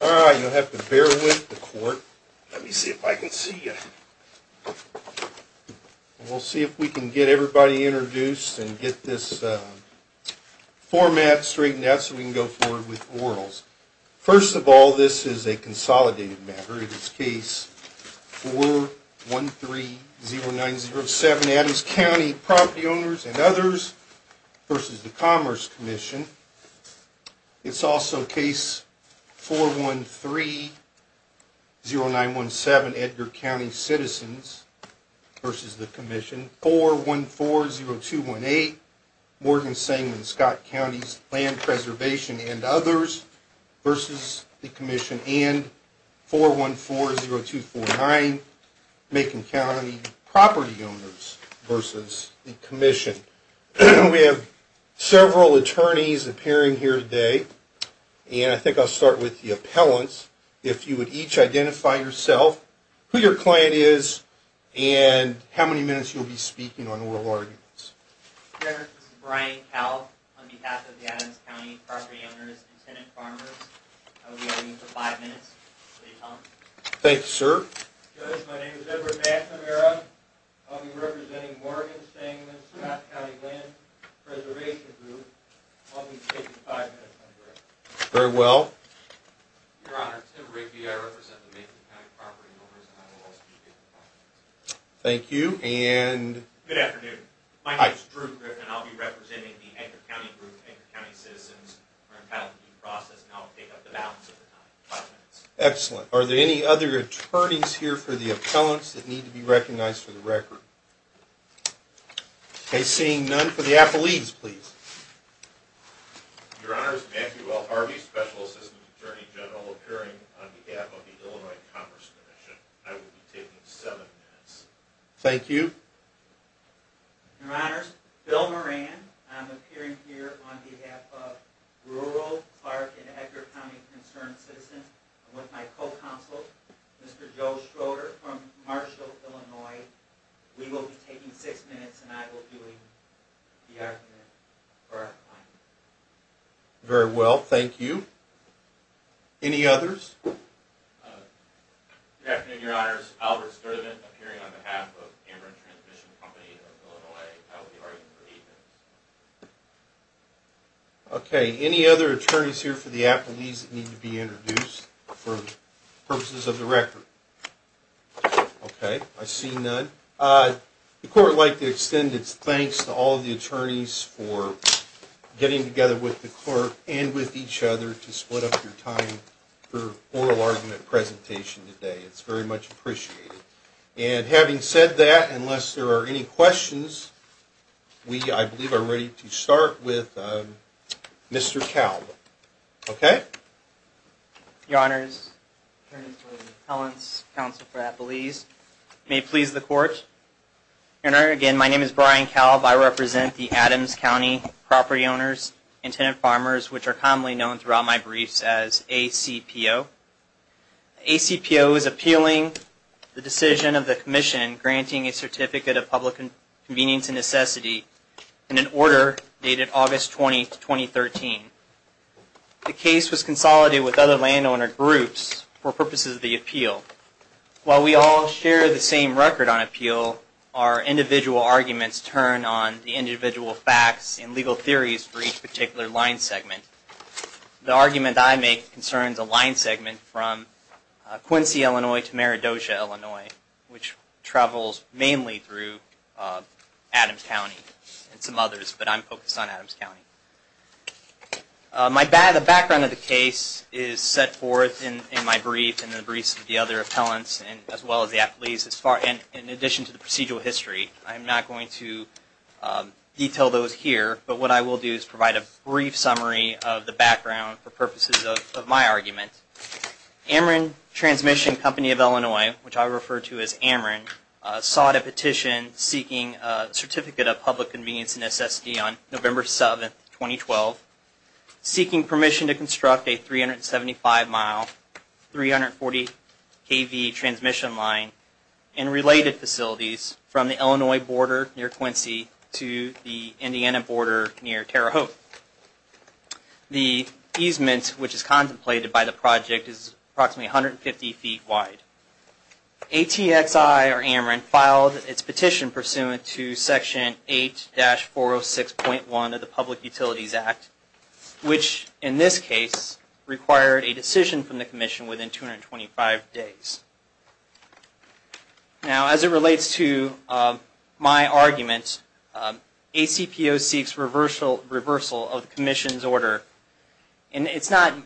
All right, you'll have to bear with the court. Let me see if I can see you. We'll see if we can get everybody introduced and get this format straightened out so we can go forward with orals. First of all, this is a consolidated matter. It is case 4130907 Adams County Property Owners and Others versus the Commerce Commission. It's also case 4130917 Edgar County Citizens versus the Commission. 4140218 Morgan Sanguine Scott County's Land Preservation and Others versus the Commission and 4140249 Macon County Property Owners versus the Commission. We have several attorneys appearing here today, and I think I'll start with the appellants. If you would each identify yourself, who your client is, and how many minutes you'll be speaking on oral arguments. Your Honor, this is Brian Kalb on behalf of the Adams County Property Owners and Tenant Farmers. I will be arguing for five minutes. Please call me. Thank you, sir. Good, my name is Edward McNamara. I'll be representing Morgan Sanguine Scott County Land Preservation Group. I'll be speaking five minutes on the record. Very well. Your Honor, Tim Rakey. I represent the Macon County Property Owners and I will speak in five minutes. Thank you, and... Good afternoon. My name is Drew Griffin, and I'll be representing the Edgar County Group, Edgar County Citizens. We're entitled to due process, and I'll pick up the balance over time. Five minutes. Excellent. Are there any other attorneys here for the appellants that need to be recognized for the record? Okay, seeing none. For the appellees, please. Your Honor, Matthew L. Harvey, Special Assistant Attorney General, appearing on behalf of the Illinois Commerce Commission. I will be taking seven minutes. Thank you. Your Honor, Bill Moran. I'm appearing here on behalf of rural, Clark, and Edgar County Concerned Citizens. I'm with my co-counsel, Mr. Joe Schroeder from Marshall, Illinois. We will be taking six minutes, and I will be doing the argument for our client. Very well, thank you. Any others? Good afternoon, Your Honors. Albert Sturdivant, appearing on behalf of Cameron Transmission Company of Illinois. I will be arguing for eight minutes. Okay, any other attorneys here for the appellees that need to be introduced for purposes of the record? Okay, I see none. The Court would like to extend its thanks to all of the attorneys for getting together with the Court and with each other to split up your time for oral argument presentation today. It's very much appreciated. And having said that, unless there are any questions, we, I believe, are ready to start with Mr. Kalb. Okay? Your Honors, Attorneys for the Appellants, Counsel for Appellees, may it please the Court. Your Honor, again, my name is Brian Kalb. I represent the Adams County property owners and tenant farmers, which are commonly known throughout my briefs as ACPO. ACPO is appealing the decision of the Commission granting a Certificate of Public Convenience and Necessity in an order dated August 20, 2013. The case was consolidated with other landowner groups for purposes of the appeal. While we all share the same record on appeal, our individual arguments turn on the individual facts and legal theories for each segment from Quincy, Illinois to Meridotia, Illinois, which travels mainly through Adams County and some others, but I'm focused on Adams County. My background of the case is set forth in my brief and the briefs of the other appellants as well as the appellees. In addition to the procedural history, I'm not going to detail those here, but what I will do is provide a brief summary of the background for purposes of my argument. Ameren Transmission Company of Illinois, which I refer to as Ameren, sought a petition seeking a Certificate of Public Convenience and Necessity on November 7, 2012, seeking permission to construct a 375-mile, 340-kV transmission line and related facilities from the Illinois border near Quincy to the Indiana border near Terre Haute. The easement, which is contemplated by the project, is approximately 150 feet wide. ATXI, or Ameren, filed its petition pursuant to Section 8-406.1 of the Public Utilities Act, which in this case required a decision from the Commission within 225 days. Now, as it relates to my argument, ACPO seeks reversal of the Commission's order. And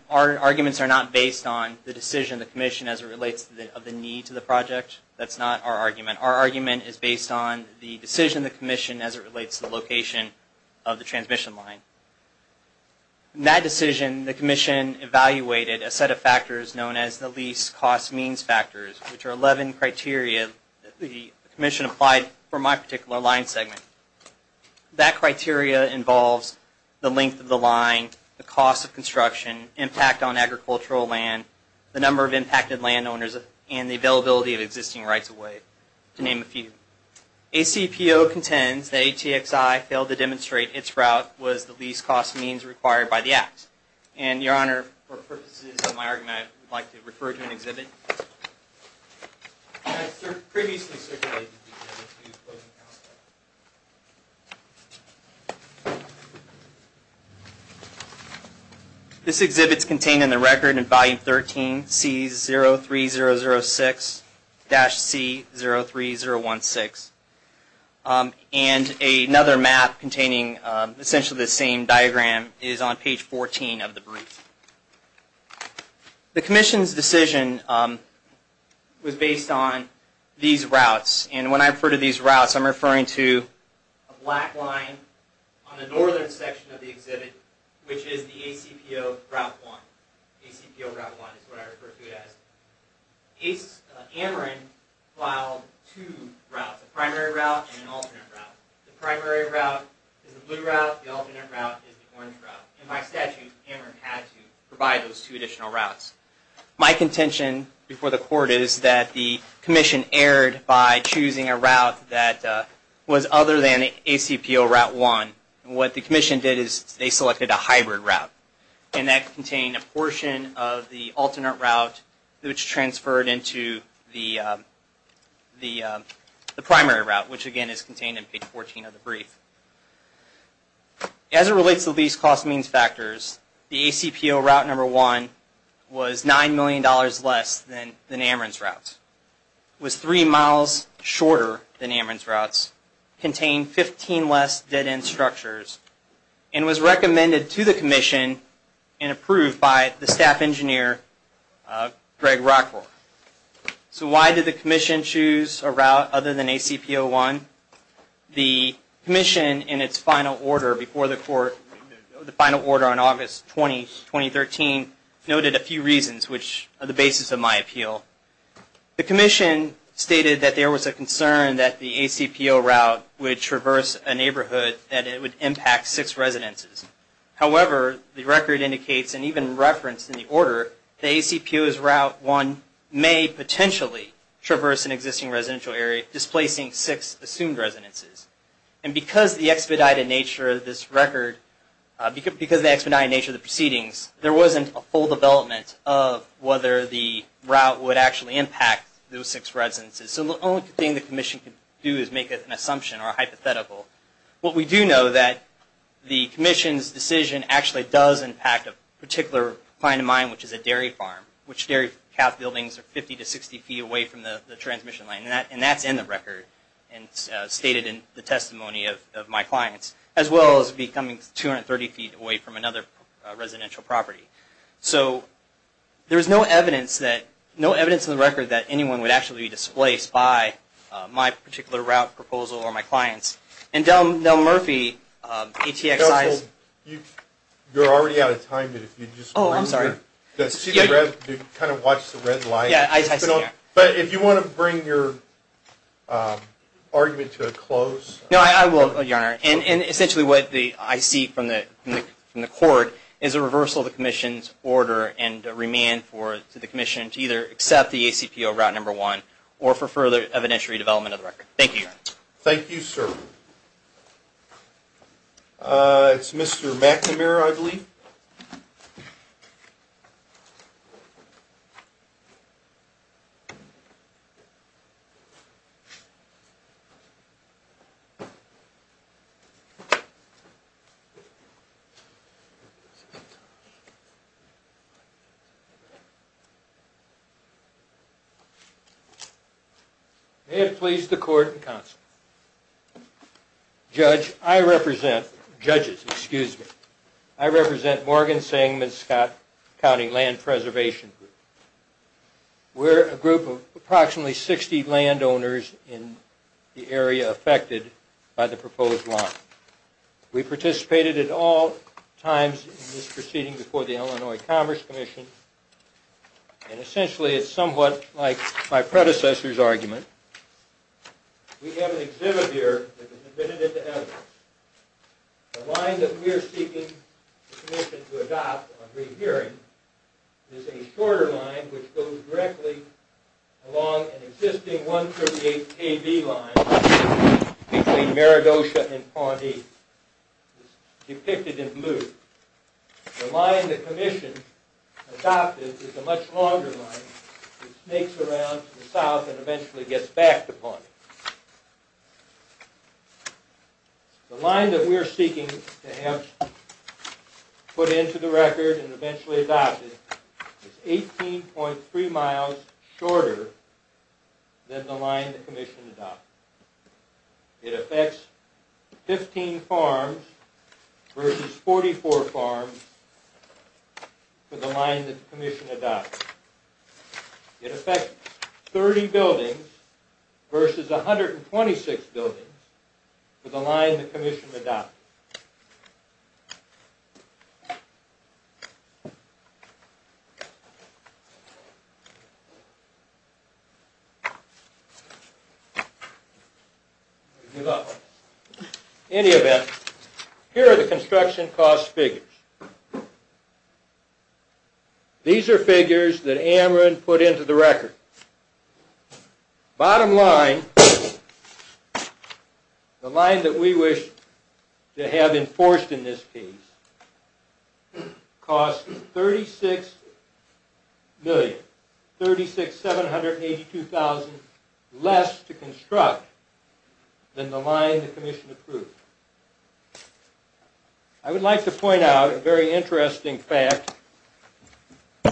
our arguments are not based on the decision of the Commission as it relates to the need to the project. That's not our argument. Our argument is based on the decision of the Commission as it relates to the location of the transmission line. In that decision, the Commission evaluated a set of factors known as the Least Cost Means Factors, which are 11 criteria the Commission applied for my particular line segment. That criteria involves the length of the line, the cost of construction, impact on agricultural land, the number of impacted landowners, and the availability of existing rights of way, to name a few. ACPO contends that ATXI failed to demonstrate its route was the least cost means required by the Act. And, Your Honor, for purposes of my argument, I would like to refer to an exhibit. This exhibit is contained in the record in volume 13, C03006-C03016. And another map containing essentially the same diagram is on page 14 of the brief. The Commission's decision was based on these routes. And when I refer to these routes, I'm referring to a black line on the northern section of the exhibit, which is the ACPO Route 1. ACPO Route 1 is what I refer to it as. Ameren filed two routes, a primary route and an alternate route. The primary route is the blue route. The alternate route is the orange route. In my statute, Ameren had to provide those two additional routes. My contention before the Court is that the Commission erred by choosing a route that was other than ACPO Route 1. What the Commission did is they selected a hybrid route. And that contained a portion of the alternate route, which transferred into the primary route, which again is contained in page 14 of the brief. As it relates to these cost means factors, the ACPO Route 1 was $9 million less than Ameren's routes. It was three miles shorter than Ameren's routes, contained 15 less dead-end structures, and was recommended to the Commission and approved by the staff engineer, Greg Rockforth. So why did the Commission choose a route other than ACPO 1? The Commission, in its final order before the Court, the final order on August 20, 2013, noted a few reasons, which are the basis of my appeal. The Commission stated that there was a concern that the ACPO Route would traverse a neighborhood that it would impact six residences. However, the record indicates, and even referenced in the order, the ACPO Route 1 may potentially traverse an existing residential area, displacing six assumed residences. And because the expedited nature of this record, because the expedited nature of the proceedings, there wasn't a full development of whether the route would actually impact those six residences. So the only thing the Commission could do is make an assumption or a hypothetical. What we do know is that the Commission's decision actually does impact a particular client of mine, which is a dairy farm, which dairy calf buildings are 50 to 60 feet away from the transmission line, and that's in the record, and stated in the testimony of my clients, as well as becoming 230 feet away from another residential property. So there's no evidence that, no evidence in the record that anyone would actually be displaced by my particular route proposal or my clients. And Del Murphy, ETXI's... Counsel, you're already out of time, but if you'd just... Oh, I'm sorry. ...kind of watch the red light. Yeah, I see that. But if you want to bring your argument to a close... No, I will, Your Honor. And essentially what I see from the Court is a reversal of the Commission's order and a remand to the Commission to either accept the ACPO Route 1 or for further evidentiary development of the record. Thank you, Your Honor. Thank you, sir. It's Mr. McNamara, I believe. May it please the Court and Counsel. Judge, I represent... Judges, excuse me. I represent Morgan Sangman Scott County Land Preservation Group. We're a group of approximately 60 landowners in the area affected by the proposed line. We participated at all times in this proceeding before the Illinois Commerce Commission, and it's an exhibit here that has been admitted into evidence. The line that we're seeking the Commission to adopt on rehearing is a shorter line which goes directly along an existing 138 KB line between Maragosha and Pawnee. It's depicted in blue. The line the Commission adopted is a much longer line that snakes around to the south and eventually gets back to Pawnee. The line that we're seeking to have put into the record and eventually adopted is 18.3 miles shorter than the line the Commission adopted. It affects 15 farms versus 44 farms for the line that the Commission adopted. It affects 30 buildings versus 126 buildings for the line the Commission adopted. We give up. In any event, here are the construction cost figures. These are figures that AMRIN put into the record. Bottom line, the line that we wish to have enforced in this case costs $36,782,000 less to construct than the line the Commission approved. I would like to point out a very interesting fact,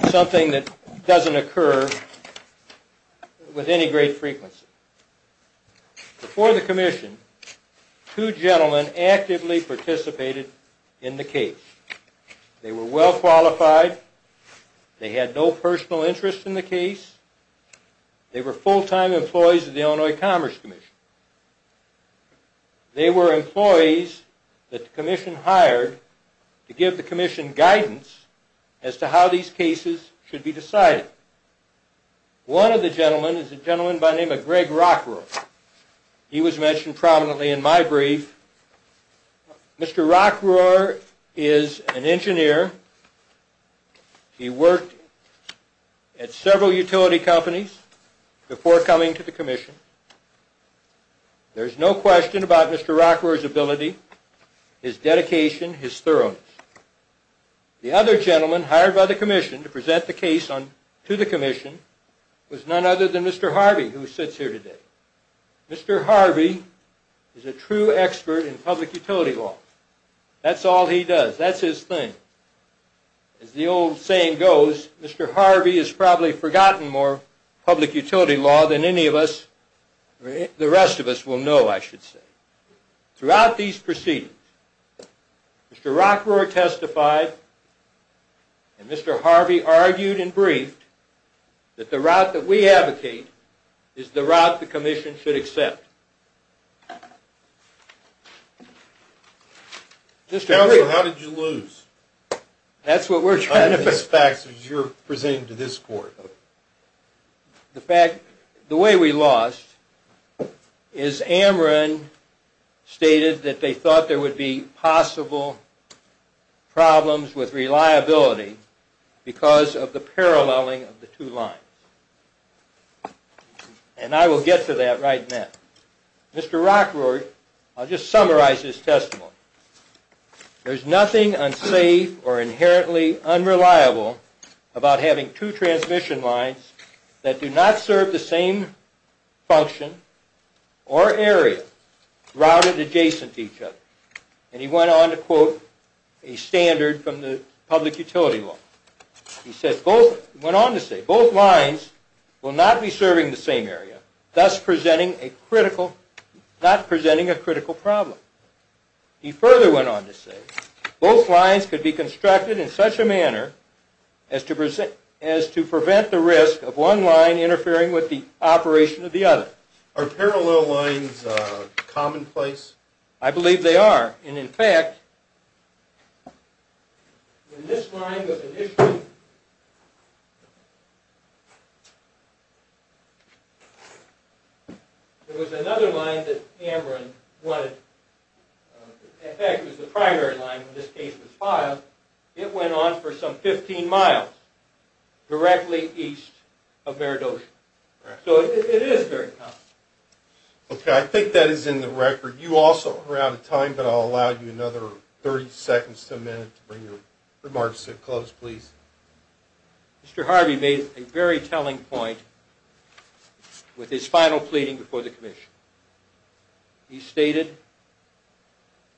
something that doesn't occur with any great frequency. Before the Commission, two gentlemen actively participated in the case. They were well qualified. They had no personal interest in the case. They were full-time employees of the Illinois Commerce Commission. They were employees that the Commission hired to give the Commission guidance as to how these cases should be decided. One of the gentlemen is a gentleman by the name of Greg Rockroar. He was mentioned prominently in my brief. Mr. Rockroar is an engineer. He worked at several utility companies before coming to the Commission. There's no question about Mr. Rockroar's ability, his dedication, his thoroughness. The other gentleman hired by the Commission to present the case to the Commission was none other than Mr. Harvey, who sits here today. Mr. Harvey is a true expert in public utility law. That's all he does. That's his thing. As the old saying goes, Mr. Harvey has probably forgotten more public utility law than any of us, the rest of us, will know, I should say. Throughout these proceedings, Mr. Rockroar testified and Mr. Harvey argued and briefed that the route that we advocate is the route the Commission should accept. Just how did you lose? That's what we're trying to fix. Facts as you're presenting to this court. The fact, the way we lost is Amron stated that they thought there would be possible problems with reliability because of the paralleling of the two lines. And I will get to that right now. Mr. Rockroar, I'll just summarize his testimony. There's nothing unsafe or inherently unreliable about having two transmission lines that do not serve the same function or area routed adjacent to each other. And he went on to quote a standard from the public utility law. He went on to say both lines will not be serving the same area, thus presenting a critical, not presenting a critical problem. He further went on to say both lines could be constructed in such a manner as to prevent the risk of one line interfering with the operation of the other. Are parallel lines commonplace? I believe they are. And in fact, when this line was initially, there was another line that Amron wanted. In fact, it was the primary line when this case was filed. It went on for some 15 miles directly east of Meredosha. So it is very common. Okay, I think that is in the record. You also are out of time, but I'll allow you another 30 seconds to a minute to bring your remarks to a close, please. Mr. Harvey made a very telling point with his final pleading before the commission. He stated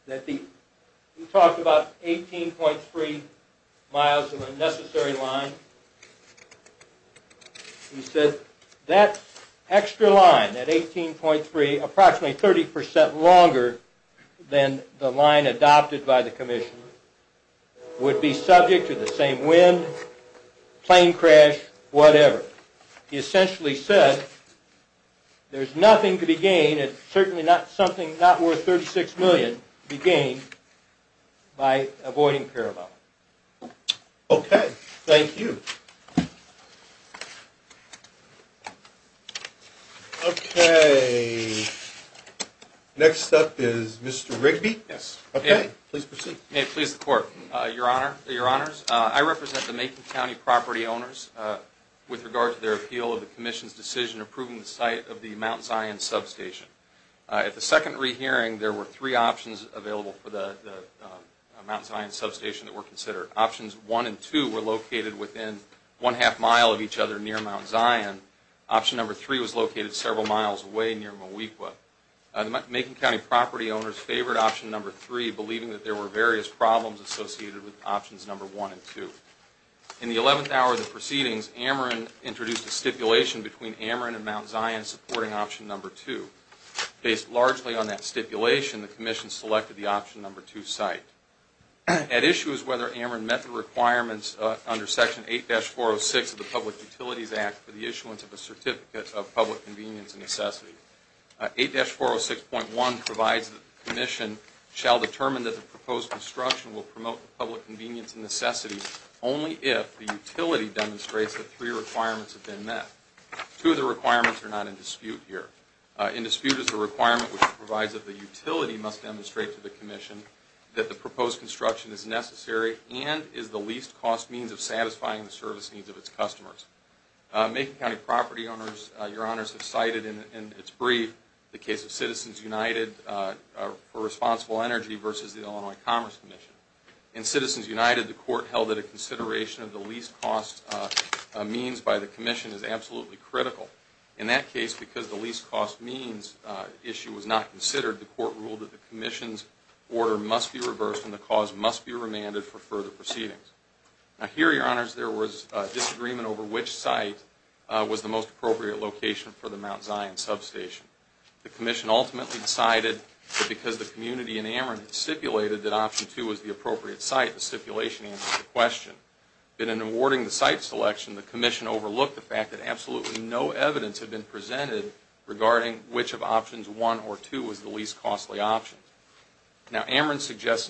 that the, he talked about 18.3 miles of unnecessary line. He said that extra line at 18.3, approximately 30 percent longer than the line adopted by the commission, would be subject to the same wind, plane crash, whatever. He essentially said there's nothing to be gained, it's certainly not something not worth 36 million to be gained by avoiding parallel. Okay, thank you. Okay, next up is Mr. Rigby. Yes. Okay, please proceed. May it please the court. Your honor, your honors, I represent the Macon County property owners with regard to their appeal of the commission's decision approving the site of the Mount Zion substation. At the second rehearing, there were three options available for the Mount Zion substation that were considered. Options one and two were located within one-half mile of each other near Mount Zion. Option number three was located several miles away near Mawequa. The Macon County property owners favored option number three, believing that there were various problems associated with options number one and two. In the 11th hour of the proceedings, Ameren introduced a stipulation between Ameren and Mount Zion supporting option number two. Based largely on that stipulation, the commission selected the under section 8-406 of the Public Utilities Act for the issuance of a certificate of public convenience and necessity. 8-406.1 provides that the commission shall determine that the proposed construction will promote the public convenience and necessity only if the utility demonstrates that three requirements have been met. Two of the requirements are not in dispute here. In dispute is the requirement which provides that the utility must demonstrate to the commission that the proposed construction is necessary and is the least cost means of satisfying the service needs of its customers. Macon County property owners, your honors, have cited in its brief the case of Citizens United for Responsible Energy versus the Illinois Commerce Commission. In Citizens United, the court held that a consideration of the least cost means by the commission is absolutely critical. In that case, because the least cost means issue was not must be reversed and the cause must be remanded for further proceedings. Now here, your honors, there was disagreement over which site was the most appropriate location for the Mount Zion substation. The commission ultimately decided that because the community in Ameren had stipulated that option two was the appropriate site, the stipulation answered the question. But in awarding the site selection, the commission overlooked the fact that absolutely no evidence had been suggested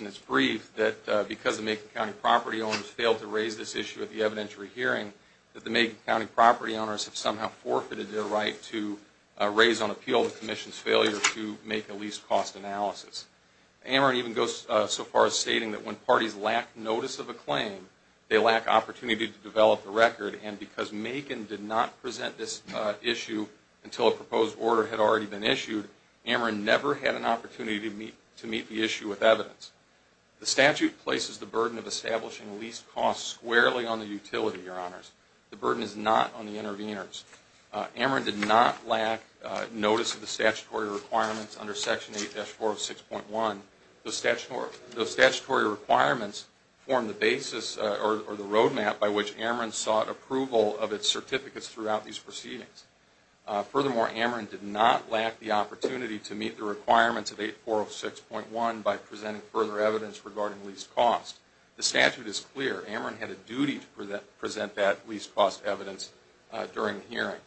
in its brief that because the Macon County property owners failed to raise this issue at the evidentiary hearing, that the Macon County property owners have somehow forfeited their right to raise on appeal the commission's failure to make a least cost analysis. Ameren even goes so far as stating that when parties lack notice of a claim, they lack opportunity to develop the record. And because Macon did not present this issue until a proposed order had already been The statute places the burden of establishing least cost squarely on the utility, your honors. The burden is not on the interveners. Ameren did not lack notice of the statutory requirements under Section 8-406.1. Those statutory requirements form the basis or the roadmap by which Ameren sought approval of its certificates throughout these proceedings. Furthermore, Ameren did not by presenting further evidence regarding least cost. The statute is clear. Ameren had a duty to present that least cost evidence during the hearing.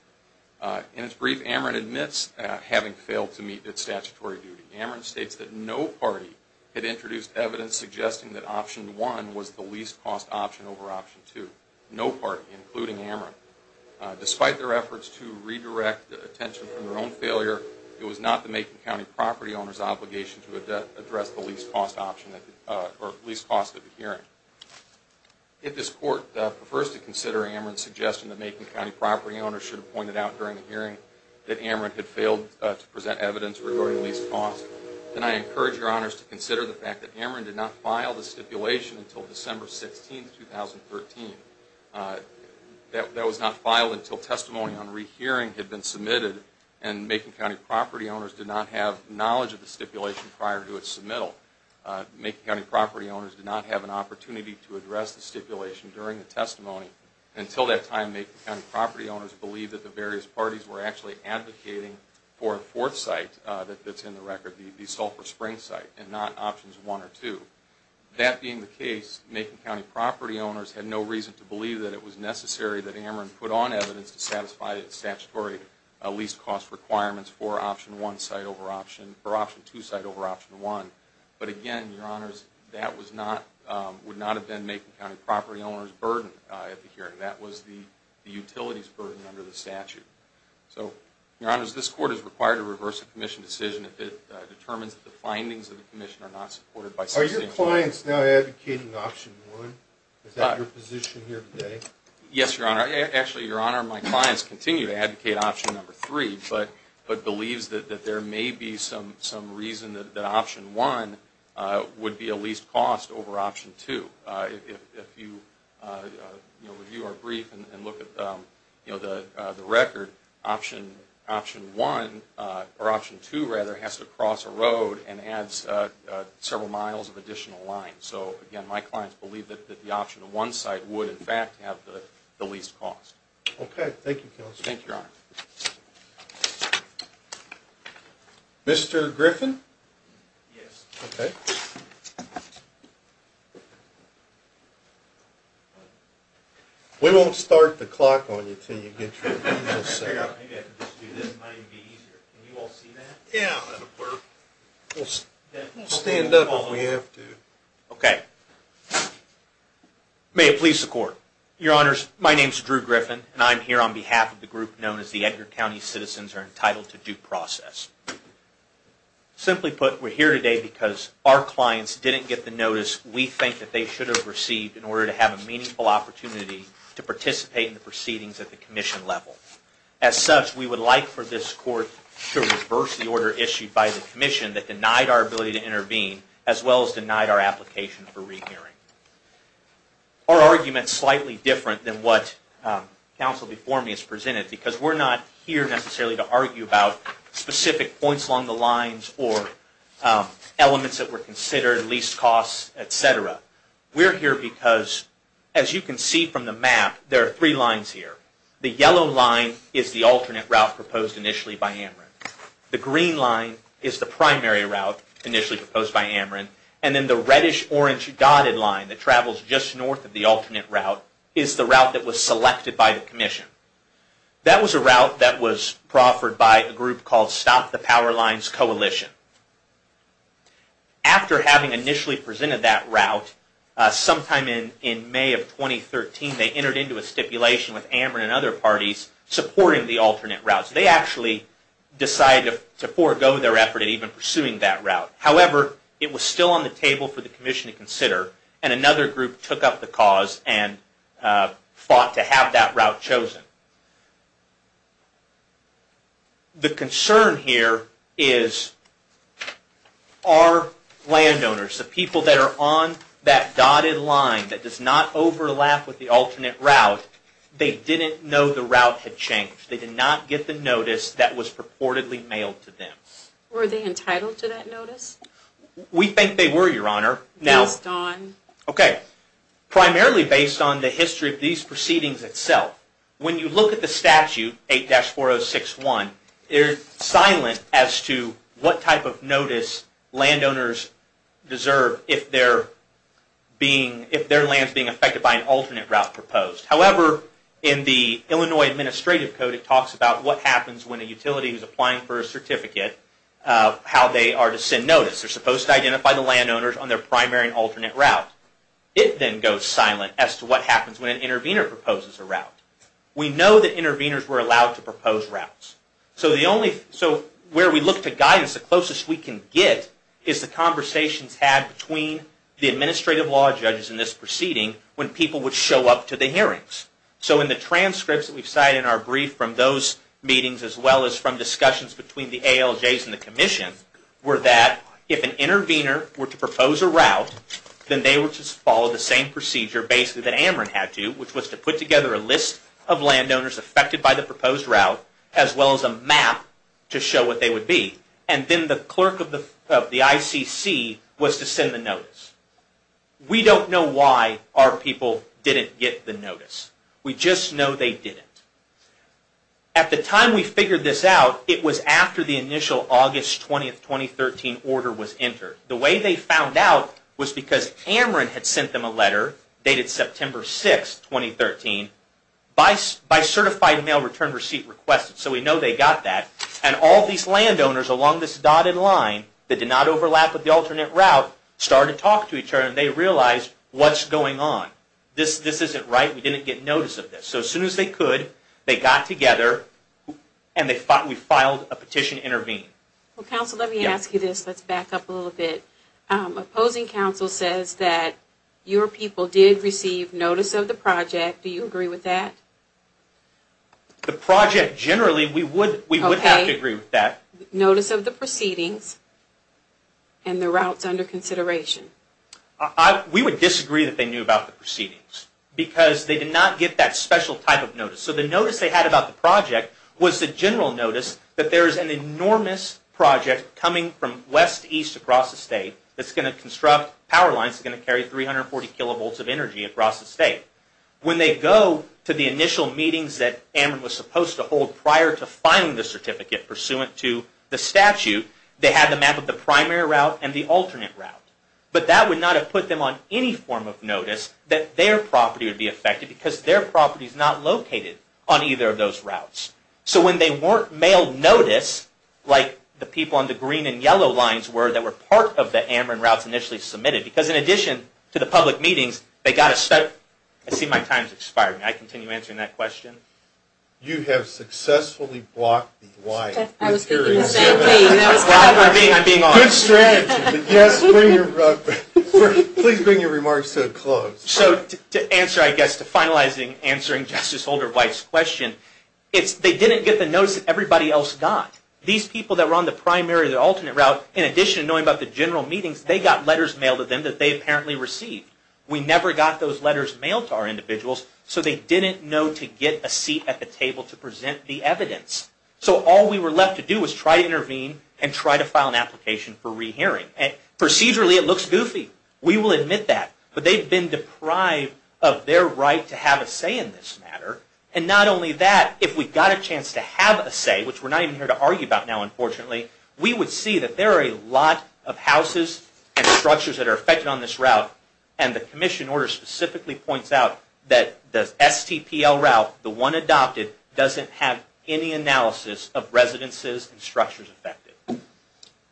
In its brief, Ameren admits having failed to meet its statutory duty. Ameren states that no party had introduced evidence suggesting that option one was the least cost option over option two. No party, including Ameren. Despite their efforts to redirect attention from their own failure, it was not the Macon property owner's obligation to address the least cost option or least cost at the hearing. If this Court prefers to consider Ameren's suggestion that Macon County property owners should have pointed out during the hearing that Ameren had failed to present evidence regarding least cost, then I encourage your honors to consider the fact that Ameren did not file the stipulation until December 16, 2013. That was not filed until testimony on knowledge of the stipulation prior to its submittal. Macon County property owners did not have an opportunity to address the stipulation during the testimony. Until that time, Macon County property owners believed that the various parties were actually advocating for a fourth site that's in the record, the Sulphur Spring site, and not options one or two. That being the case, Macon County property owners had no reason to believe that it was necessary that Ameren put on evidence to satisfy its statutory least cost requirements for option one site over option two site over option one. But again, your honors, that would not have been Macon County property owner's burden at the hearing. That was the utility's burden under the statute. So, your honors, this Court is required to reverse the commission decision if it determines that the findings of the commission are not supported by substantial... Are your clients now advocating option one? Is that your position here today? Yes, your honor. Actually, your honor, my clients continue to advocate option number three, but believes that there may be some reason that option one would be a least cost over option two. If you review our brief and look at the record, option one, or option two, rather, has to cross a road and adds several miles of additional line. So, again, my clients believe that the option one site would, in fact, have the least cost. Okay. Thank you, counsel. Thank you, your honor. Mr. Griffin? Yes. Okay. We won't start the clock on you until you get your email sent out. Maybe I can just do this. It might even be easier. Can you all see that? Yeah, that'll work. We'll stand up if we have to. Okay. May it please the Court. Your honors, my name is Drew Griffin, and I'm here on behalf of the group known as the Edgar County Citizens are Entitled to Due Process. Simply put, we're here today because our clients didn't get the notice we think that they should have received in order to have a meaningful opportunity to participate in the proceedings at the commission level. As such, we would like for this court to reverse the order issued by the commission that denied our ability to intervene, as well as denied our application for because we're not here necessarily to argue about specific points along the lines or elements that were considered, least costs, etc. We're here because, as you can see from the map, there are three lines here. The yellow line is the alternate route proposed initially by Ameren. The green line is the primary route initially proposed by Ameren, and then the reddish-orange dotted line that travels just north of the alternate route is the route that was selected by the commission. That was a route that was proffered by a group called Stop the Power Lines Coalition. After having initially presented that route sometime in May of 2013, they entered into a stipulation with Ameren and other parties supporting the alternate routes. They actually decided to forego their effort at even pursuing that route. However, it was still on the table for the commission to consider, and another group took up the cause and fought to have that route chosen. The concern here is, our landowners, the people that are on that dotted line that does not overlap with the alternate route, they didn't know the route had changed. They did not get the notice that was purportedly mailed to them. Were they entitled to that notice? We think they were, Your Honor. Primarily based on the history of these proceedings itself, when you look at the statute 8-4061, it is silent as to what type of notice landowners deserve if their land is being affected by an alternate route proposed. However, in the Illinois Administrative Code, it talks about what happens when a utility is applying for a certificate, how they are to send notice. They identify the landowners on their primary and alternate route. It then goes silent as to what happens when an intervener proposes a route. We know that interveners were allowed to propose routes. So, where we look to guidance, the closest we can get is the conversations had between the administrative law judges in this proceeding when people would show up to the hearings. So, in the transcripts that we've cited in our brief from those meetings, as well as from discussions between the ALJs and the Commission, were that if an intervener were to propose a route, then they would just follow the same procedure basically that Ameren had to, which was to put together a list of landowners affected by the proposed route, as well as a map to show what they would be. And then the clerk of the ICC was to send the notice. We don't know why our people didn't get the notice. We just know they didn't. At the time we figured this out, it was after the initial August 20, 2013 order was entered. The way they found out was because Ameren had sent them a letter dated September 6, 2013, by certified mail return receipt request. So, we know they got that. And all these landowners along this dotted line that did not overlap with the alternate route started to talk to each other and they realized what's going on. This isn't right. We didn't get notice of this. So, as soon as they could, they got together and we filed a petition to intervene. Well, counsel, let me ask you this. Let's back up a little bit. Opposing counsel says that your people did receive notice of the project. Do you agree with that? The project generally, we would have to agree with that. Notice of the proceedings and the routes under consideration. We would disagree that they knew about the proceedings because they did not get that special type of notice. So, the notice they had about the project was the general notice that there is an enormous project coming from west to east across the state that's going to construct power lines that are going to carry 340 kilovolts of energy across the state. When they go to the initial meetings that Ameren was supposed to hold prior to filing the certificate pursuant to the statute, they had the map of the primary route and the alternate route. But that would not have put them on any form of notice that their property would be affected because their property is not located on either of those routes. So, when they weren't mailed notice, like the people on the green and yellow lines were that were part of the Ameren routes initially submitted, because in addition to the public meetings, they got a set up. I see my time is expiring. I continue answering that question. You have successfully blocked the wire. I was thinking the same thing. I'm being honest. Good strategy. Yes, please bring your remarks to a close. So, to answer, I guess, to finalizing, answering Justice Holder White's question, it's they didn't get the notice that everybody else got. These people that were on the primary or the alternate route, in addition to knowing about the general meetings, they got letters mailed to them that they apparently received. We never got those letters mailed to our individuals so they didn't know to get a seat at the table to present the evidence. So, all we were left to do was try to intervene and try to file an application for rehearing. Procedurally, it looks goofy. We will admit that. But they've been deprived of their right to have a say in this matter. And not only that, if we got a chance to have a say, which we're not even here to argue about now, unfortunately, we would see that there are a lot of houses and structures that are affected.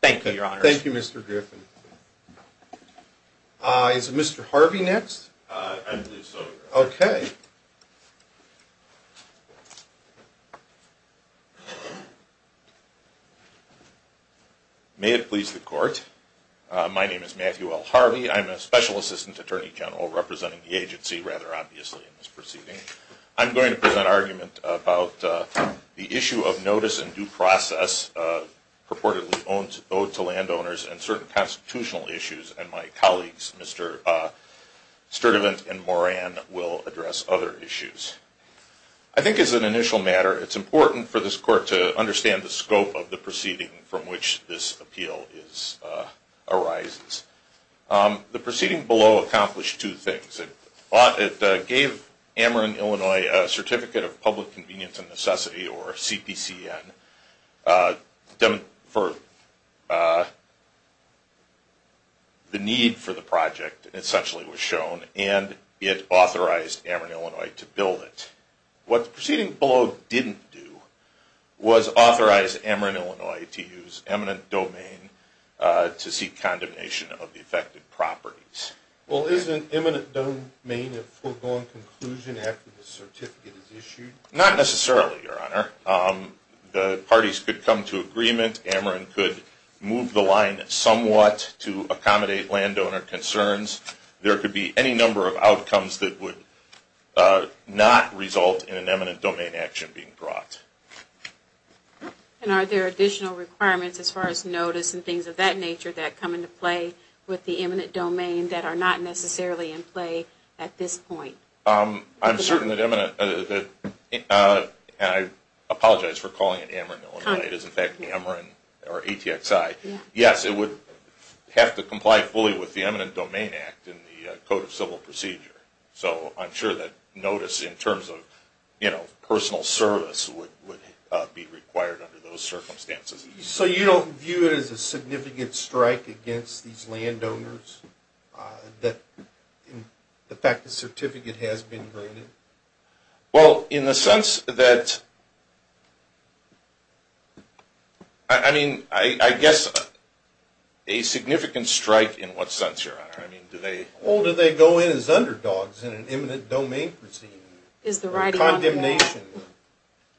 Thank you, Your Honor. Thank you, Mr. Griffin. Is Mr. Harvey next? I believe so, Your Honor. Okay. May it please the Court, my name is Matthew L. Harvey. I'm a Special Assistant Attorney General representing the agency, rather obviously, in this proceeding. I'm going to present an argument about the issue of notice and due process purportedly owed to landowners and certain constitutional issues. And my colleagues, Mr. Sturdivant and Moran, will address other issues. I think as an initial matter, it's important for this Court to understand the scope of the It gave Ameren, Illinois, a Certificate of Public Convenience and Necessity, or CPCN, for the need for the project, essentially was shown, and it authorized Ameren, Illinois, to build it. What the proceeding below didn't do was authorize Ameren, Illinois, to use eminent domain to seek condemnation of the affected properties. Well, is an eminent domain a foregone conclusion after the certificate is issued? Not necessarily, Your Honor. The parties could come to agreement. Ameren could move the line somewhat to accommodate landowner concerns. There could be any number of outcomes that would not result in an eminent domain action being brought. And are there additional requirements as far as notice and things of that nature that come into play with the eminent domain that are not necessarily in play at this point? I'm certain that eminent, and I apologize for calling it Ameren, Illinois. It is, in fact, Ameren or ATXI. Yes, it would have to comply fully with the Eminent Domain Act in the Code of Civil Code. So you don't view it as a significant strike against these landowners, that the fact the certificate has been granted? Well, in the sense that, I mean, I guess a significant strike in what sense, Your Honor? I mean, do they go in as eminent domain?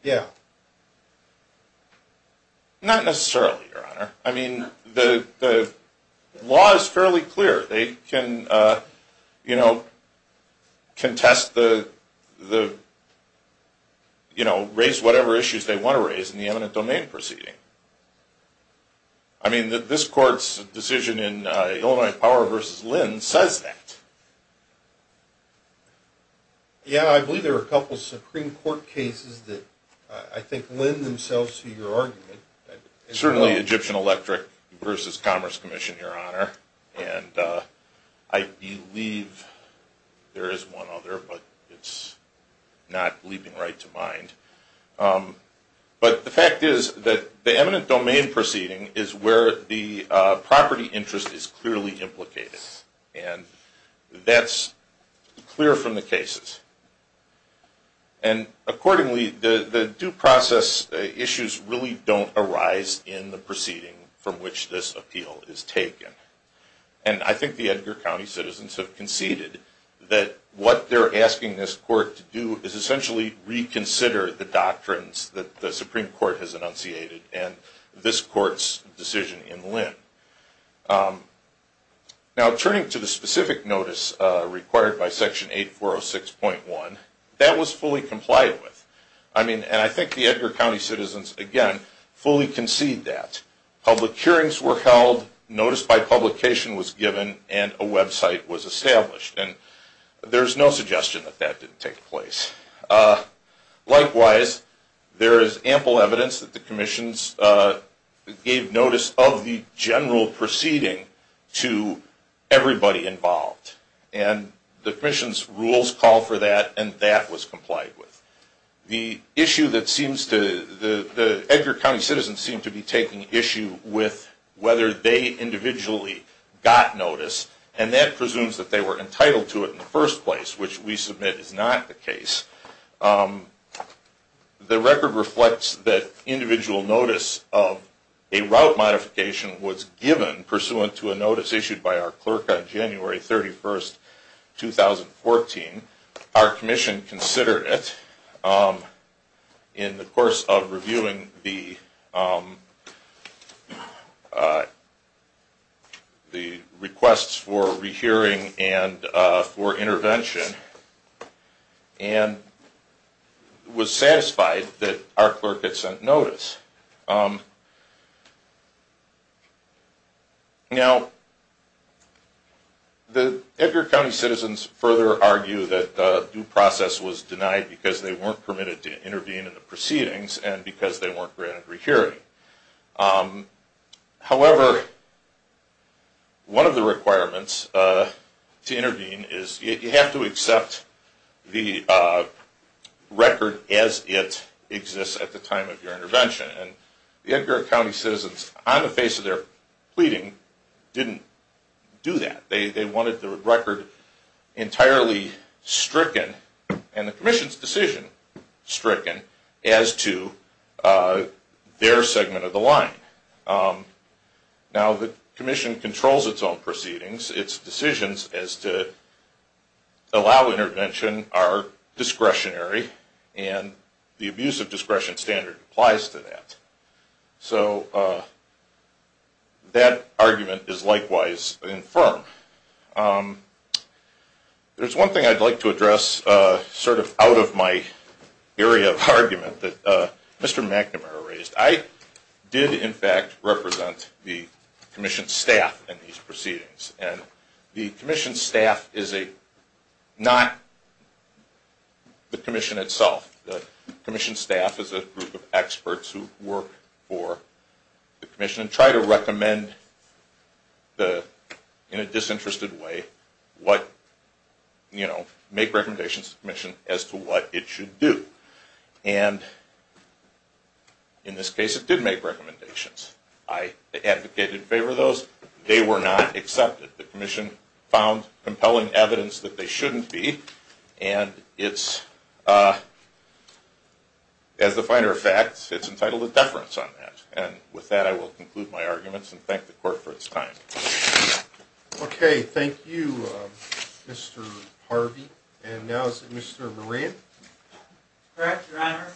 Yeah. Not necessarily, Your Honor. I mean, the law is fairly clear. They can, you know, contest the, you know, raise whatever issues they want to raise in the eminent domain proceeding. I mean, this Court's decision in Illinois Power v. Lynn says that. Yeah, I believe there were a couple of Supreme Court cases that, I think, lend themselves to your argument. Certainly Egyptian Electric v. Commerce Commission, Your Honor. And I believe there is one other, but it's not leaping right to mind. But the fact is that the eminent domain proceeding is where the property interest is clearly implicated. And that's clear from the cases. And accordingly, the due process issues really don't arise in the proceeding from which this appeal is taken. And I think the Edgar County citizens have conceded that what they're asking this Court to do is essentially reconsider the doctrines that the Supreme Court has enunciated. And this Court's decision in Lynn. Now, turning to the specific notice required by Section 8406.1, that was fully complied with. I mean, and I think the Edgar County citizens, again, fully conceded that. Public hearings were held, notice by publication was given, and a website was established. And there's no suggestion that that didn't take place. Likewise, there is ample evidence that the commissions gave notice of the general proceeding to everybody involved. And the commission's rules call for that, and that was complied with. The issue that seems to, the Edgar County citizens seem to be taking issue with whether they individually got notice, and that presumes that they were entitled to it in the first place, which we submit is not the case. The record reflects that individual notice of a route modification was given pursuant to a notice issued by our clerk on January 31st, 2014. Our commission considered it in the course of was satisfied that our clerk had sent notice. Now, the Edgar County citizens further argue that due process was denied because they weren't permitted to intervene in the proceedings, and because they weren't granted rehearing. However, one of the requirements to intervene is you have to accept the record as it exists at the time of your intervention. And the Edgar County citizens, on the face of their pleading, didn't do that. They wanted the record entirely stricken, and the commission's decision stricken, as to their segment of the line. Now, the commission controls its own proceedings. Its decisions as to allow intervention are discretionary, and the abuse of discretion standard applies to that. So that argument is likewise infirm. There's one thing I'd like to address sort of out of my area of argument that Mr. McNamara raised. I did, in fact, represent the commission staff in these proceedings, and the commission staff is not the commission itself. The commission staff is a group of experts who work for the commission and try to recommend in a disinterested way what, you know, make recommendations to the commission as to what it should do. And in this case, it did make recommendations. I advocated in favor of those. They were not accepted. The commission found compelling evidence that they shouldn't be, and it's, as a matter of fact, it's entitled to deference on that. And with that, I will conclude my arguments and thank the court for its time. Okay. Thank you, Mr. Harvey. And now is it Mr. Moran? Correct, Your Honor.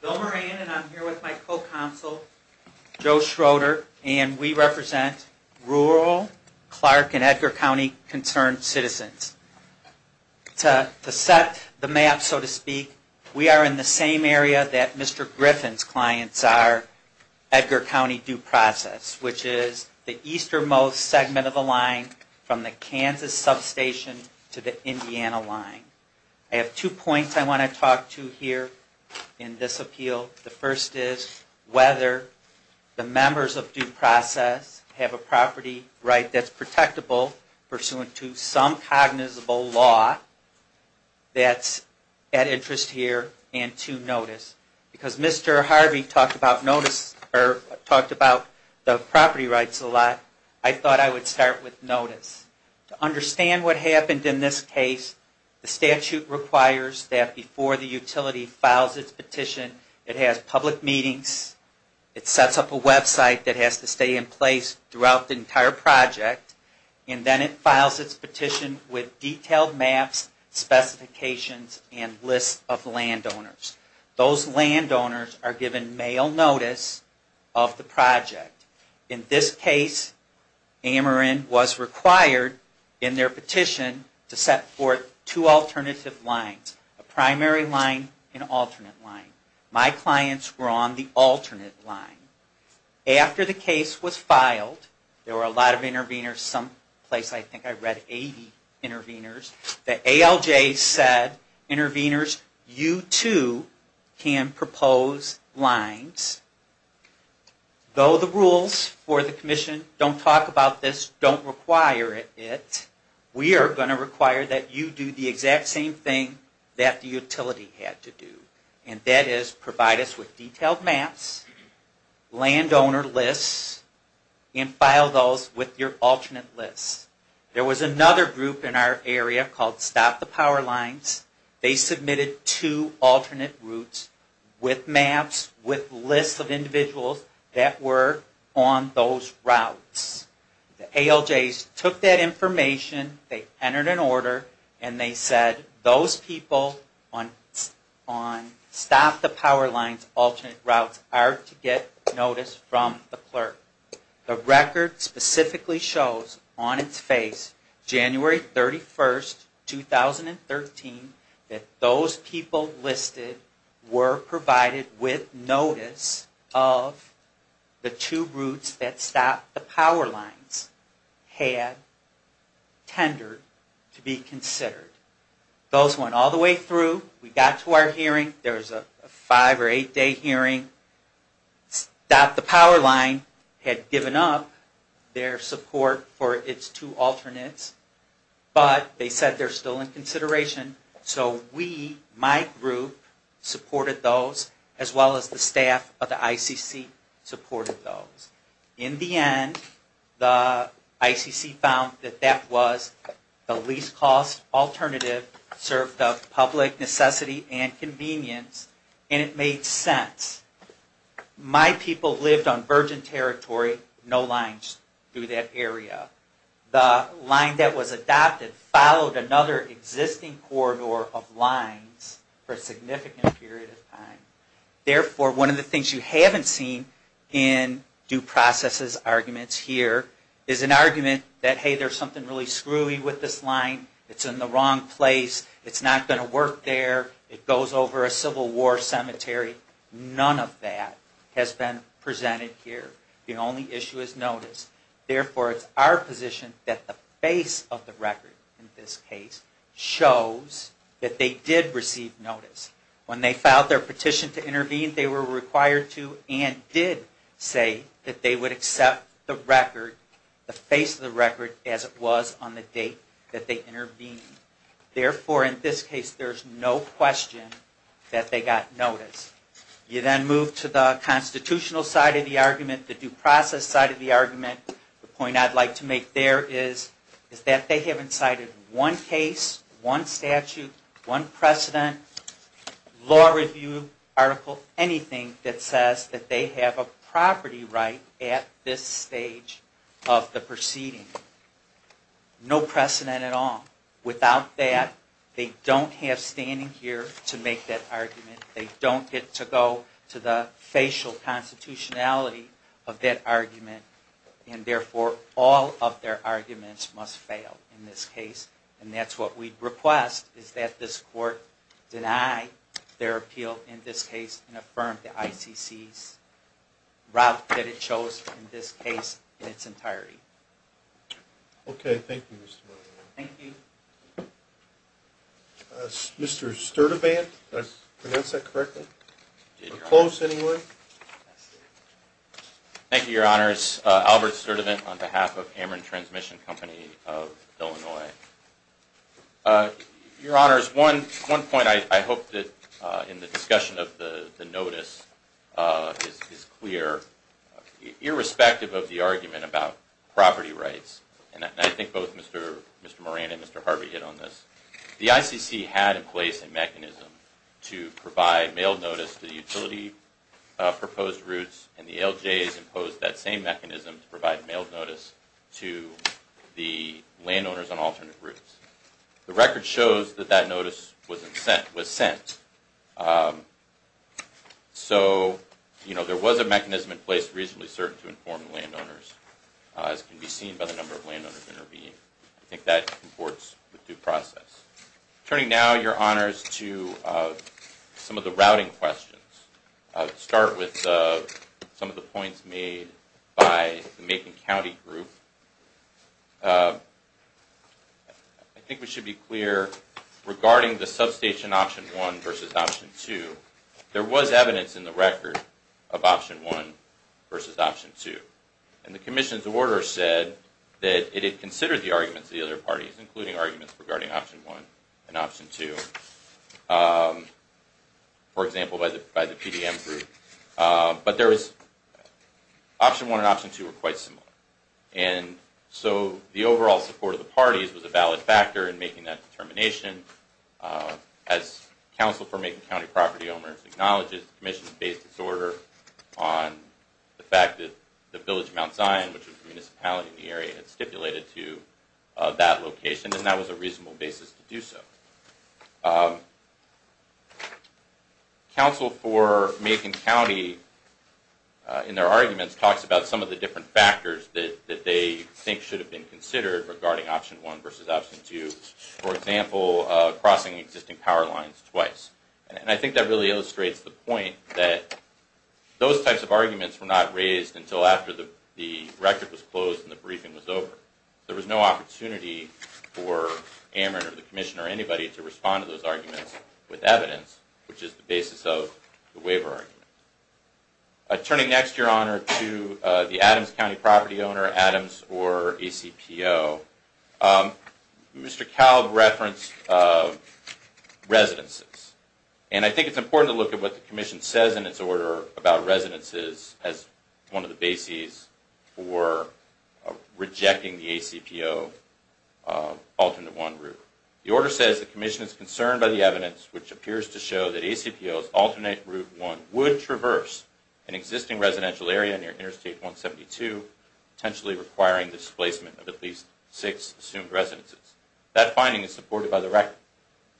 Bill Moran, and I'm here with my co-counsel, Joe Schroeder, and we represent rural Clark and Edgar County concerned citizens. To set the map, so to speak, we are in the same area that Mr. Griffin's clients are, Edgar County due process, which is the easternmost segment of the line from the Kansas substation to the Indiana line. I have two points I want to talk to here in this appeal. The first is whether the members of due process have a property right that's protectable pursuant to some cognizable law that's at interest here and to notice. Because Mr. Harvey talked about the property rights a lot, I thought I would start with notice. To understand what happened in this case, the statute requires that before the utility files its petition, it has public meetings, it sets up a website that has to stay in place throughout the entire project, and then it files its petition with detailed maps, specifications, and lists of landowners. Those landowners are given mail notice of the project. In this case, Amarin was required in their petition to set forth two alternative lines, a primary line and alternate line. My clients were on the alternate line. After the case was filed, there were a lot of interveners someplace. I think I read 80 interveners. The ALJ said, interveners, you too can propose lines. Though the rules for the commission don't talk about this, don't require it, we are going to require that you do the exact same thing that the utility had to do, and that is provide us with lists. There was another group in our area called Stop the Power Lines. They submitted two alternate routes with maps, with lists of individuals that were on those routes. The ALJs took that information, they entered an order, and they said those people on Stop the Power Lines alternate routes on its face, January 31, 2013, that those people listed were provided with notice of the two routes that Stop the Power Lines had tendered to be considered. Those went all the way through, we got to our it's two alternates, but they said they're still in consideration. So we, my group, supported those, as well as the staff of the ICC supported those. In the end, the ICC found that that was the least cost alternative, served the public necessity and convenience, and it made sense. My people lived on virgin The line that was adopted followed another existing corridor of lines for a significant period of time. Therefore, one of the things you haven't seen in due processes arguments here is an argument that, hey, there's something really screwy with this line, it's in the wrong place, it's not going to work there, it goes over a Civil War cemetery. None of that has been presented here. The only issue is notice. Therefore, it's our position that the face of the record, in this case, shows that they did receive notice. When they filed their petition to intervene, they were required to and did say that they would accept the record, the face of the record, as it was on the date that they intervened. Therefore, in this case, there's no question that they got notice. You then move to the constitutional side of the argument, the due process side of the argument. The point I'd like to make there is that they haven't cited one case, one statute, one precedent, law review article, anything that says that they have a property right at this stage of the proceeding. No precedent at all. Without that, they don't have standing here to make that argument. They don't get to go to the facial constitutionality of that argument, and therefore, all of their arguments must fail in this case. And that's what we'd request, is that this court deny their appeal in this case and affirm the ICC's route that it chose in this case in its entirety. Okay. Thank you, Mr. Miller. Thank you. Mr. Sturdivant? Did I pronounce that correctly? Or close, anyway? Thank you, Your Honors. Albert Sturdivant on behalf of Ammon Transmission Company of Illinois. Your Honors, one point I hope that in the discussion of the notice is clear. Irrespective of the argument about property rights, and I think both Mr. Moran and Mr. Harvey hit on this, the ICC had in place a mechanism to provide mailed notice to the utility proposed routes, and the LJs imposed that same mechanism to provide mailed notice to the landowners on alternate routes. The record shows that that notice was sent. So, you know, there was a mechanism in place, reasonably certain, to inform the process, as can be seen by the number of landowners intervening. I think that supports the due process. Turning now, Your Honors, to some of the routing questions. I'll start with some of the points made by the Macon County group. I think we should be clear regarding the substation Option 1 versus Option 2, there was evidence in the record of Option 1 versus Option 2. And the Commission's order said that it had considered the arguments of the other parties, including arguments regarding Option 1 and Option 2, for example, by the PDM group. But there was, Option 1 and Option 2 were quite similar. And so the overall support of the property owners acknowledges the Commission's base disorder on the fact that the village of Mount Zion, which is a municipality in the area, had stipulated to that location, and that was a reasonable basis to do so. Counsel for Macon County, in their arguments, talks about some of the different factors that they think should have been considered regarding Option 1 versus Option 2, for example, crossing existing power lines twice. And I think that really illustrates the point that those types of arguments were not raised until after the record was closed and the briefing was over. There was no opportunity for Ammon or the Commission or anybody to respond to those arguments with evidence, which is the basis of the waiver argument. Turning next, Your Honor, to the Adams County property owner, Adams or ACPO. Mr. Kalb referenced residences. And I think it's important to look at what the Commission says in its order about residences as one of the bases for rejecting the ACPO Alternate Route 1. The order says the Commission is concerned by the evidence, which appears to show that ACPO's Alternate Route 1 would traverse an existing residential area near Interstate 172, potentially requiring displacement of at least six assumed residences. That finding is supported by the record.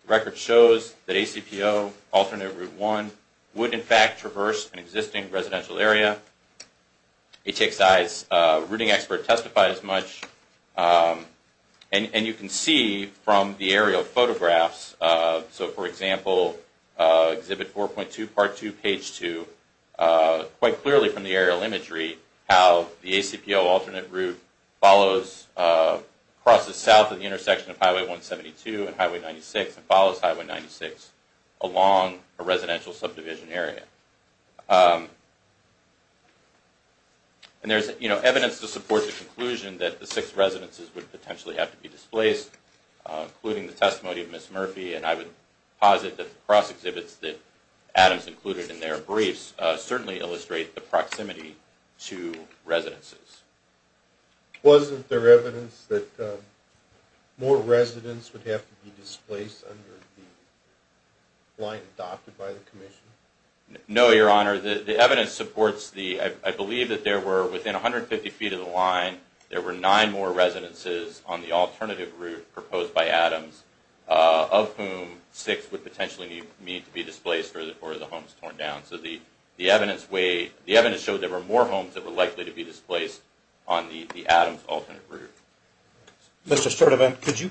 The record shows that ACPO Alternate Route 1 would, in fact, traverse an existing residential area. HXI's routing expert testified as much. And you can see from the aerial photographs, so for example, Exhibit 4.2, Part 2, Page 2, quite clearly from the aerial imagery, how the ACPO Alternate Route crosses south of the intersection of Highway 172 and Highway 96 and follows Highway 96 along a residential subdivision area. And there's evidence to support the conclusion that the six residences would potentially have to be displaced, including the testimony of Ms. Murphy. And I would posit that the cross exhibits that Adams included in their briefs certainly illustrate the proximity to residences. Wasn't there evidence that more residents would have to be displaced under the line adopted by the Commission? No, Your Honor. The evidence supports the, I believe that there were within 150 feet of the line, there were nine more residences on the Alternative Route proposed by Adams, of whom six would potentially need to be torn down. So the evidence showed there were more homes that were likely to be displaced on the Adams Alternative Route. Mr. Sturtevant, could you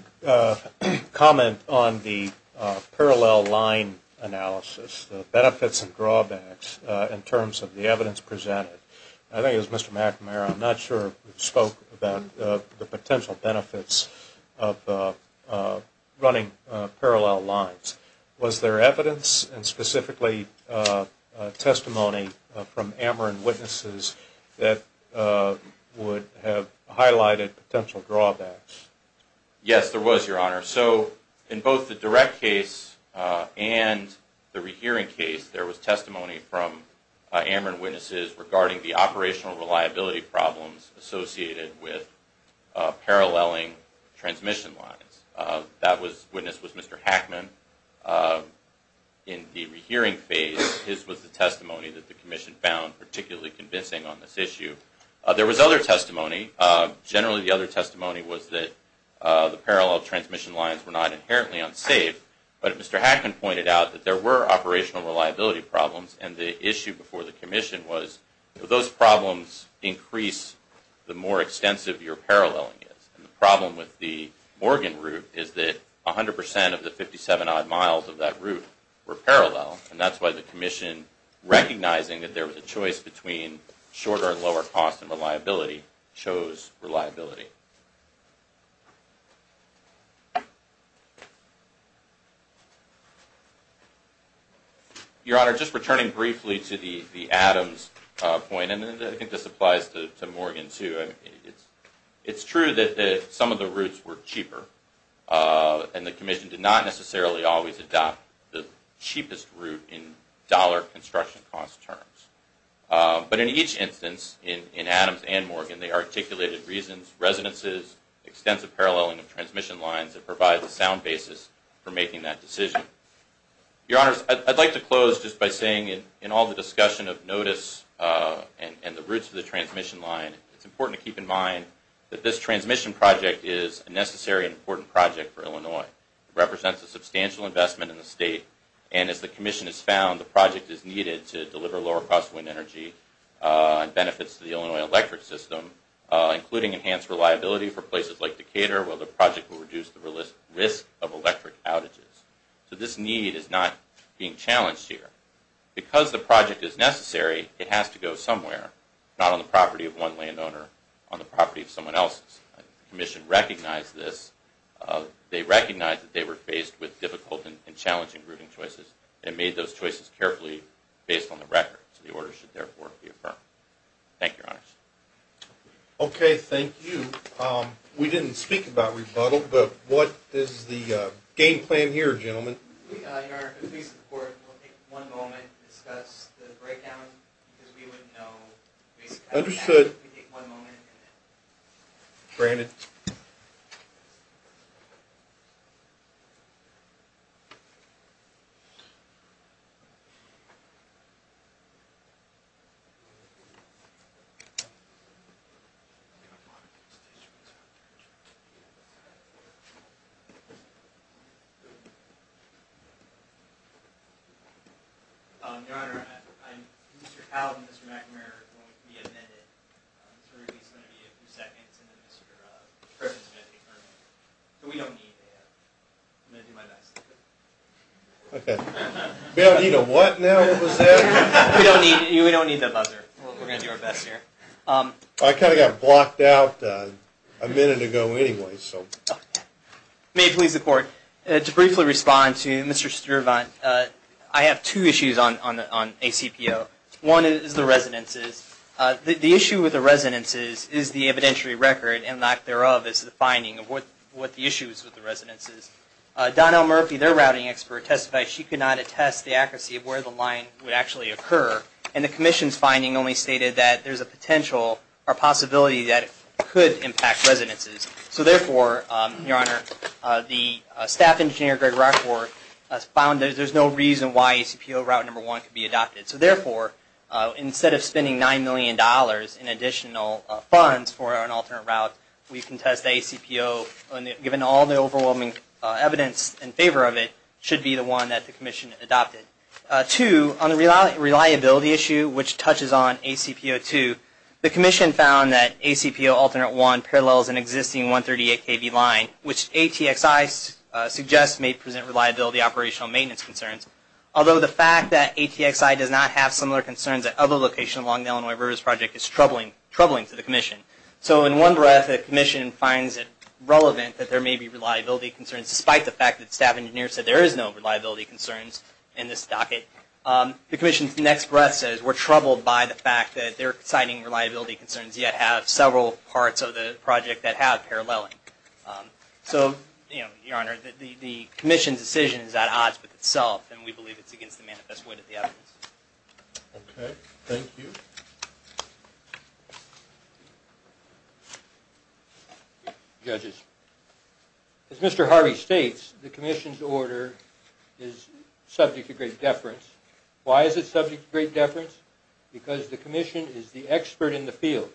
comment on the parallel line analysis, the benefits and drawbacks in terms of the evidence presented? I think as testimony from Ameren witnesses that would have highlighted potential drawbacks. Yes, there was, Your Honor. So in both the direct case and the rehearing case, there was testimony from Ameren witnesses regarding the operational reliability problems associated with paralleling transmission lines. That witness was Mr. Hackman. In the rehearing phase, his was the testimony that the Commission found particularly convincing on this issue. There was other testimony. Generally, the other testimony was that the parallel transmission lines were not inherently unsafe, but Mr. Hackman pointed out that there were operational reliability problems, and the issue before the Commission was, if those problems increase, the more extensive your paralleling is. The problem with the Morgan Route is that 100 percent of the 57-odd miles of that route were parallel, and that's why the Commission, recognizing that there was a choice between shorter and lower cost and reliability, chose reliability. Your Honor, just returning briefly to the Adams point, and I think this applies to Morgan too, it's true that some of the routes were cheaper, and the Commission did not necessarily always adopt the cheapest route in dollar construction cost terms. But in each case, when they articulated reasons, resonances, extensive paralleling of transmission lines, it provides a sound basis for making that decision. Your Honors, I'd like to close just by saying in all the discussion of notice and the routes of the transmission line, it's important to keep in mind that this transmission project is a necessary and important project for Illinois. It represents a substantial investment in the state, and as the including enhanced reliability for places like Decatur, while the project will reduce the risk of electric outages. So this need is not being challenged here. Because the project is necessary, it has to go somewhere, not on the property of one landowner, on the property of someone else's. The Commission recognized this. They recognized that they were faced with difficult and challenging routing choices, and made those choices carefully based on the record. So the order should therefore be affirmed. Thank you, Your Honors. Okay, thank you. We didn't speak about rebuttal, but what is the game plan here, gentlemen? Your Honor, if we support, we'll take one moment to discuss the breakdown. Understood. Your Honor, Mr. Powell and Mr. McNamara are going to be amended, so there's going to be at least a few seconds, and then Mr. Perkins is going to be heard. But we don't need that. I'm going to do my best. Okay. We don't need a what now? What was that? We don't need that buzzer. We're going to do our best here. I kind of got blocked out a minute ago anyway, so. May it please the Court, to briefly respond to Mr. Stiervant, I have two issues on ACPO. One is the residences. The issue with the residences is the evidentiary record, and lack thereof is the finding of what the issue is with the residences. Donnell Murphy, their routing expert, testified she could not attest the accuracy of where the line would actually occur, and the Commission's finding only indicated that there's a potential or possibility that it could impact residences. So therefore, Your Honor, the staff engineer, Greg Rushworth, has found that there's no reason why ACPO route number one could be adopted. So therefore, instead of spending $9 million in additional funds for an alternate route, we contest ACPO, given all the overwhelming evidence in favor of it, should be the one that the Commission found that ACPO alternate one parallels an existing 138kb line, which ATXI suggests may present reliability operational maintenance concerns. Although the fact that ATXI does not have similar concerns at other locations along the Illinois Rivers Project is troubling to the Commission. So in one breath, the Commission finds it relevant that there may be reliability concerns, despite the fact that they're citing reliability concerns yet have several parts of the project that have paralleling. So, Your Honor, the Commission's decision is at odds with itself, and we believe it's against the manifest wit of the evidence. Okay, thank you. Judges, as Mr. Harvey states, the Commission's order is subject to great deference. Why is it subject to great deference? Because the Commission is the expert in the field.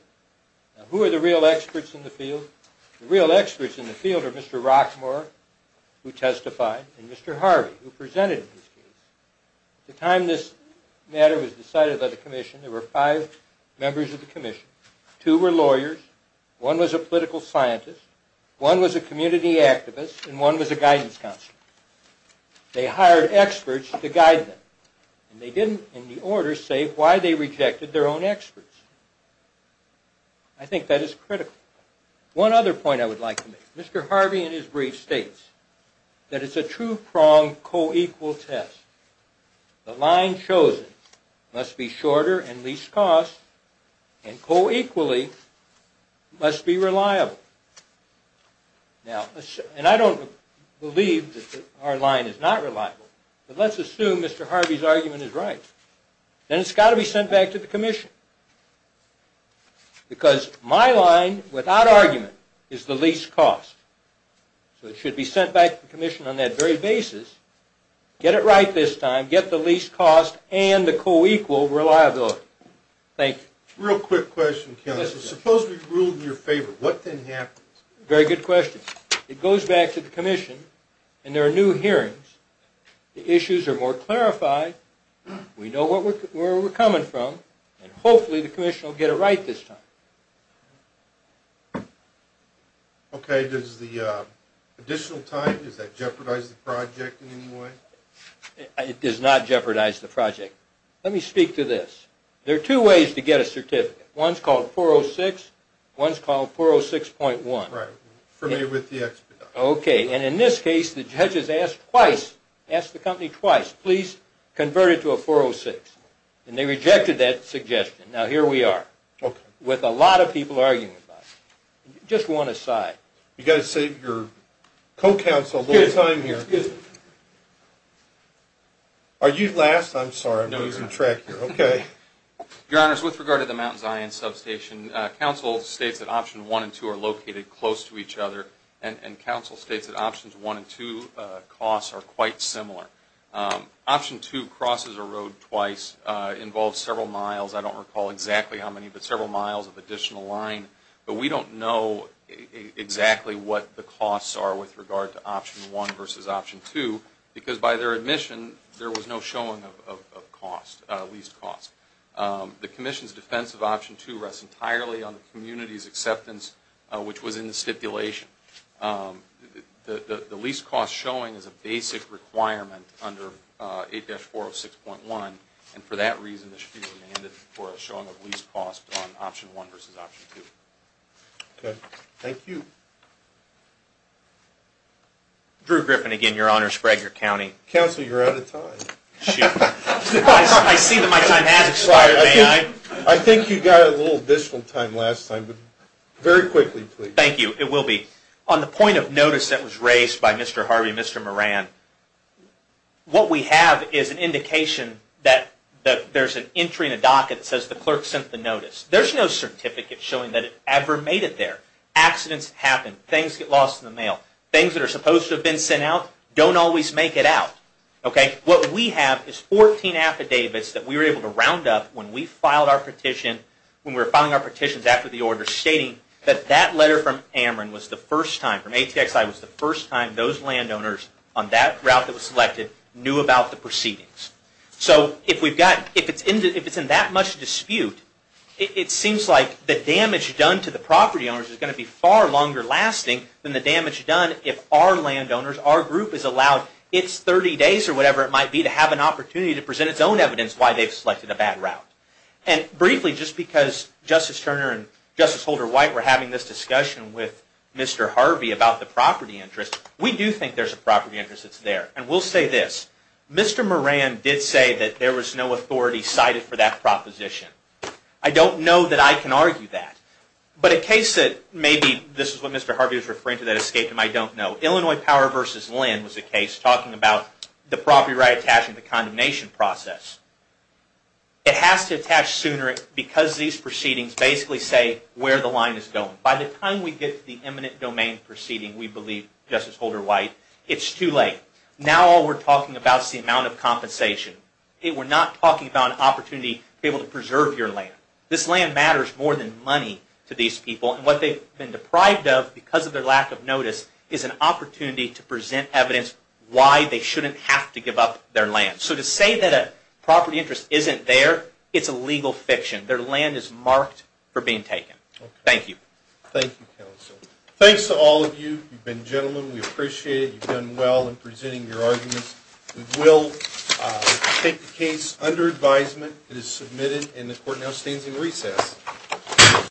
Who are the real experts in the field? The real experts in the field are Mr. Rockmore, who testified, and Mr. Harvey, who were lawyers, one was a political scientist, one was a community activist, and one was a guidance counselor. They hired experts to guide them, and they didn't in the order say why they rejected their own experts. I think that is critical. One other point I would like to make. Mr. Harvey, in his brief, states that it's a two-pronged, co-equal test. The line chosen must be shorter and least cost, and co-equally must be reliable. Now, and I don't believe that our line is not reliable, but let's assume Mr. Harvey's argument is right. Then it's got to be sent back to the Commission, because my line, without argument, is the least cost. So it should be sent back to the Real quick question, counsel. Suppose we ruled in your favor. What then happens? Very good question. It goes back to the Commission, and there are new hearings. The issues are more clarified. We know where we're coming from, and hopefully the Commission will get it right this time. Okay, does the additional time, does that jeopardize the project in any way? It does not jeopardize the project. Let me speak to this. There are two ways to get a certificate. One's called 406, one's called 406.1. Right, for me with the expedite. Okay, and in this case, the judges asked twice, asked the company twice, please convert it to a 406, and they rejected that suggestion. Now here we are. Okay. With a lot of people arguing about it. Just one aside. You've got to save your co-counsel a little time here. Are you last? I'm sorry, I'm losing track here. Okay. Your Honors, with regard to the Mount Zion substation, counsel states that option 1 and 2 are located close to each other, and counsel states that options 1 and 2 costs are quite similar. Option 2, crosses a road twice, involves several miles. I don't recall exactly how many, but several miles of additional line. But we don't know exactly what the costs are with regard to option 1 versus option 2, because by their admission, there was no showing of cost, of least cost. The Commission's defense of option 2 rests entirely on the community's acceptance, which was in the stipulation. The least cost showing is a basic requirement under 8-406.1, and for that reason, it should be demanded for a showing of least cost on option 1 versus option 2. Okay. Thank you. Drew Griffin again, Your Honors, Fragler County. Counsel, you're out of time. Shoot. I see that my time has expired. May I? I think you got a little additional time last time, but very quickly, please. Thank you. It will be. On the point of notice that was raised by Mr. Harvey and Mr. Moran, what we have is an indication that there's an entry in a docket that says the clerk sent the notice. There's no certificate showing that it ever made it there. Accidents happen. Things get lost in the mail. Things that are supposed to have been sent out don't always make it out. What we have is 14 affidavits that we were able to round up when we filed our petition, when we were filing our petitions after the order, stating that that letter from Ameren was the first time, from ATXI, was the first time those landowners on that route that was selected knew about the proceedings. If it's in that much dispute, it seems like the damage done to the property owners is going to be far longer lasting than the damage done if our landowners, our group, is allowed its 30 days or whatever it might be to have an opportunity to present its own evidence why they've selected a bad route. Briefly, just because Justice Turner and Justice Holder White were having this discussion with Mr. Harvey about the property interest, we do think there's a property interest that's there. And we'll say this, Mr. Moran did say that there was no authority cited for that proposition. I don't know that I can argue that. But a case that maybe, this is what Mr. Harvey was referring to, that escaped him, I don't know. Illinois Power vs. Land was a case talking about the property right attached to the condemnation process. It has to attach sooner because these proceedings basically say where the line is going. By the time we get to the eminent domain proceeding, we believe, Justice Holder White, it's too late. Now all we're talking about is the amount of compensation. We're not talking about an opportunity to be able to preserve your land. This land matters more than money to these people. And what they've been deprived of because of their lack of notice is an opportunity to present evidence why they shouldn't have to give up their land. So to say that a property interest isn't there, it's a legal fiction. Their land is marked for being taken. Thank you. Thank you, counsel. Thanks to all of you. You've been gentlemen. We appreciate it. You've done well in presenting your arguments. We will take the case under advisement. It is submitted and the court now stands in recess.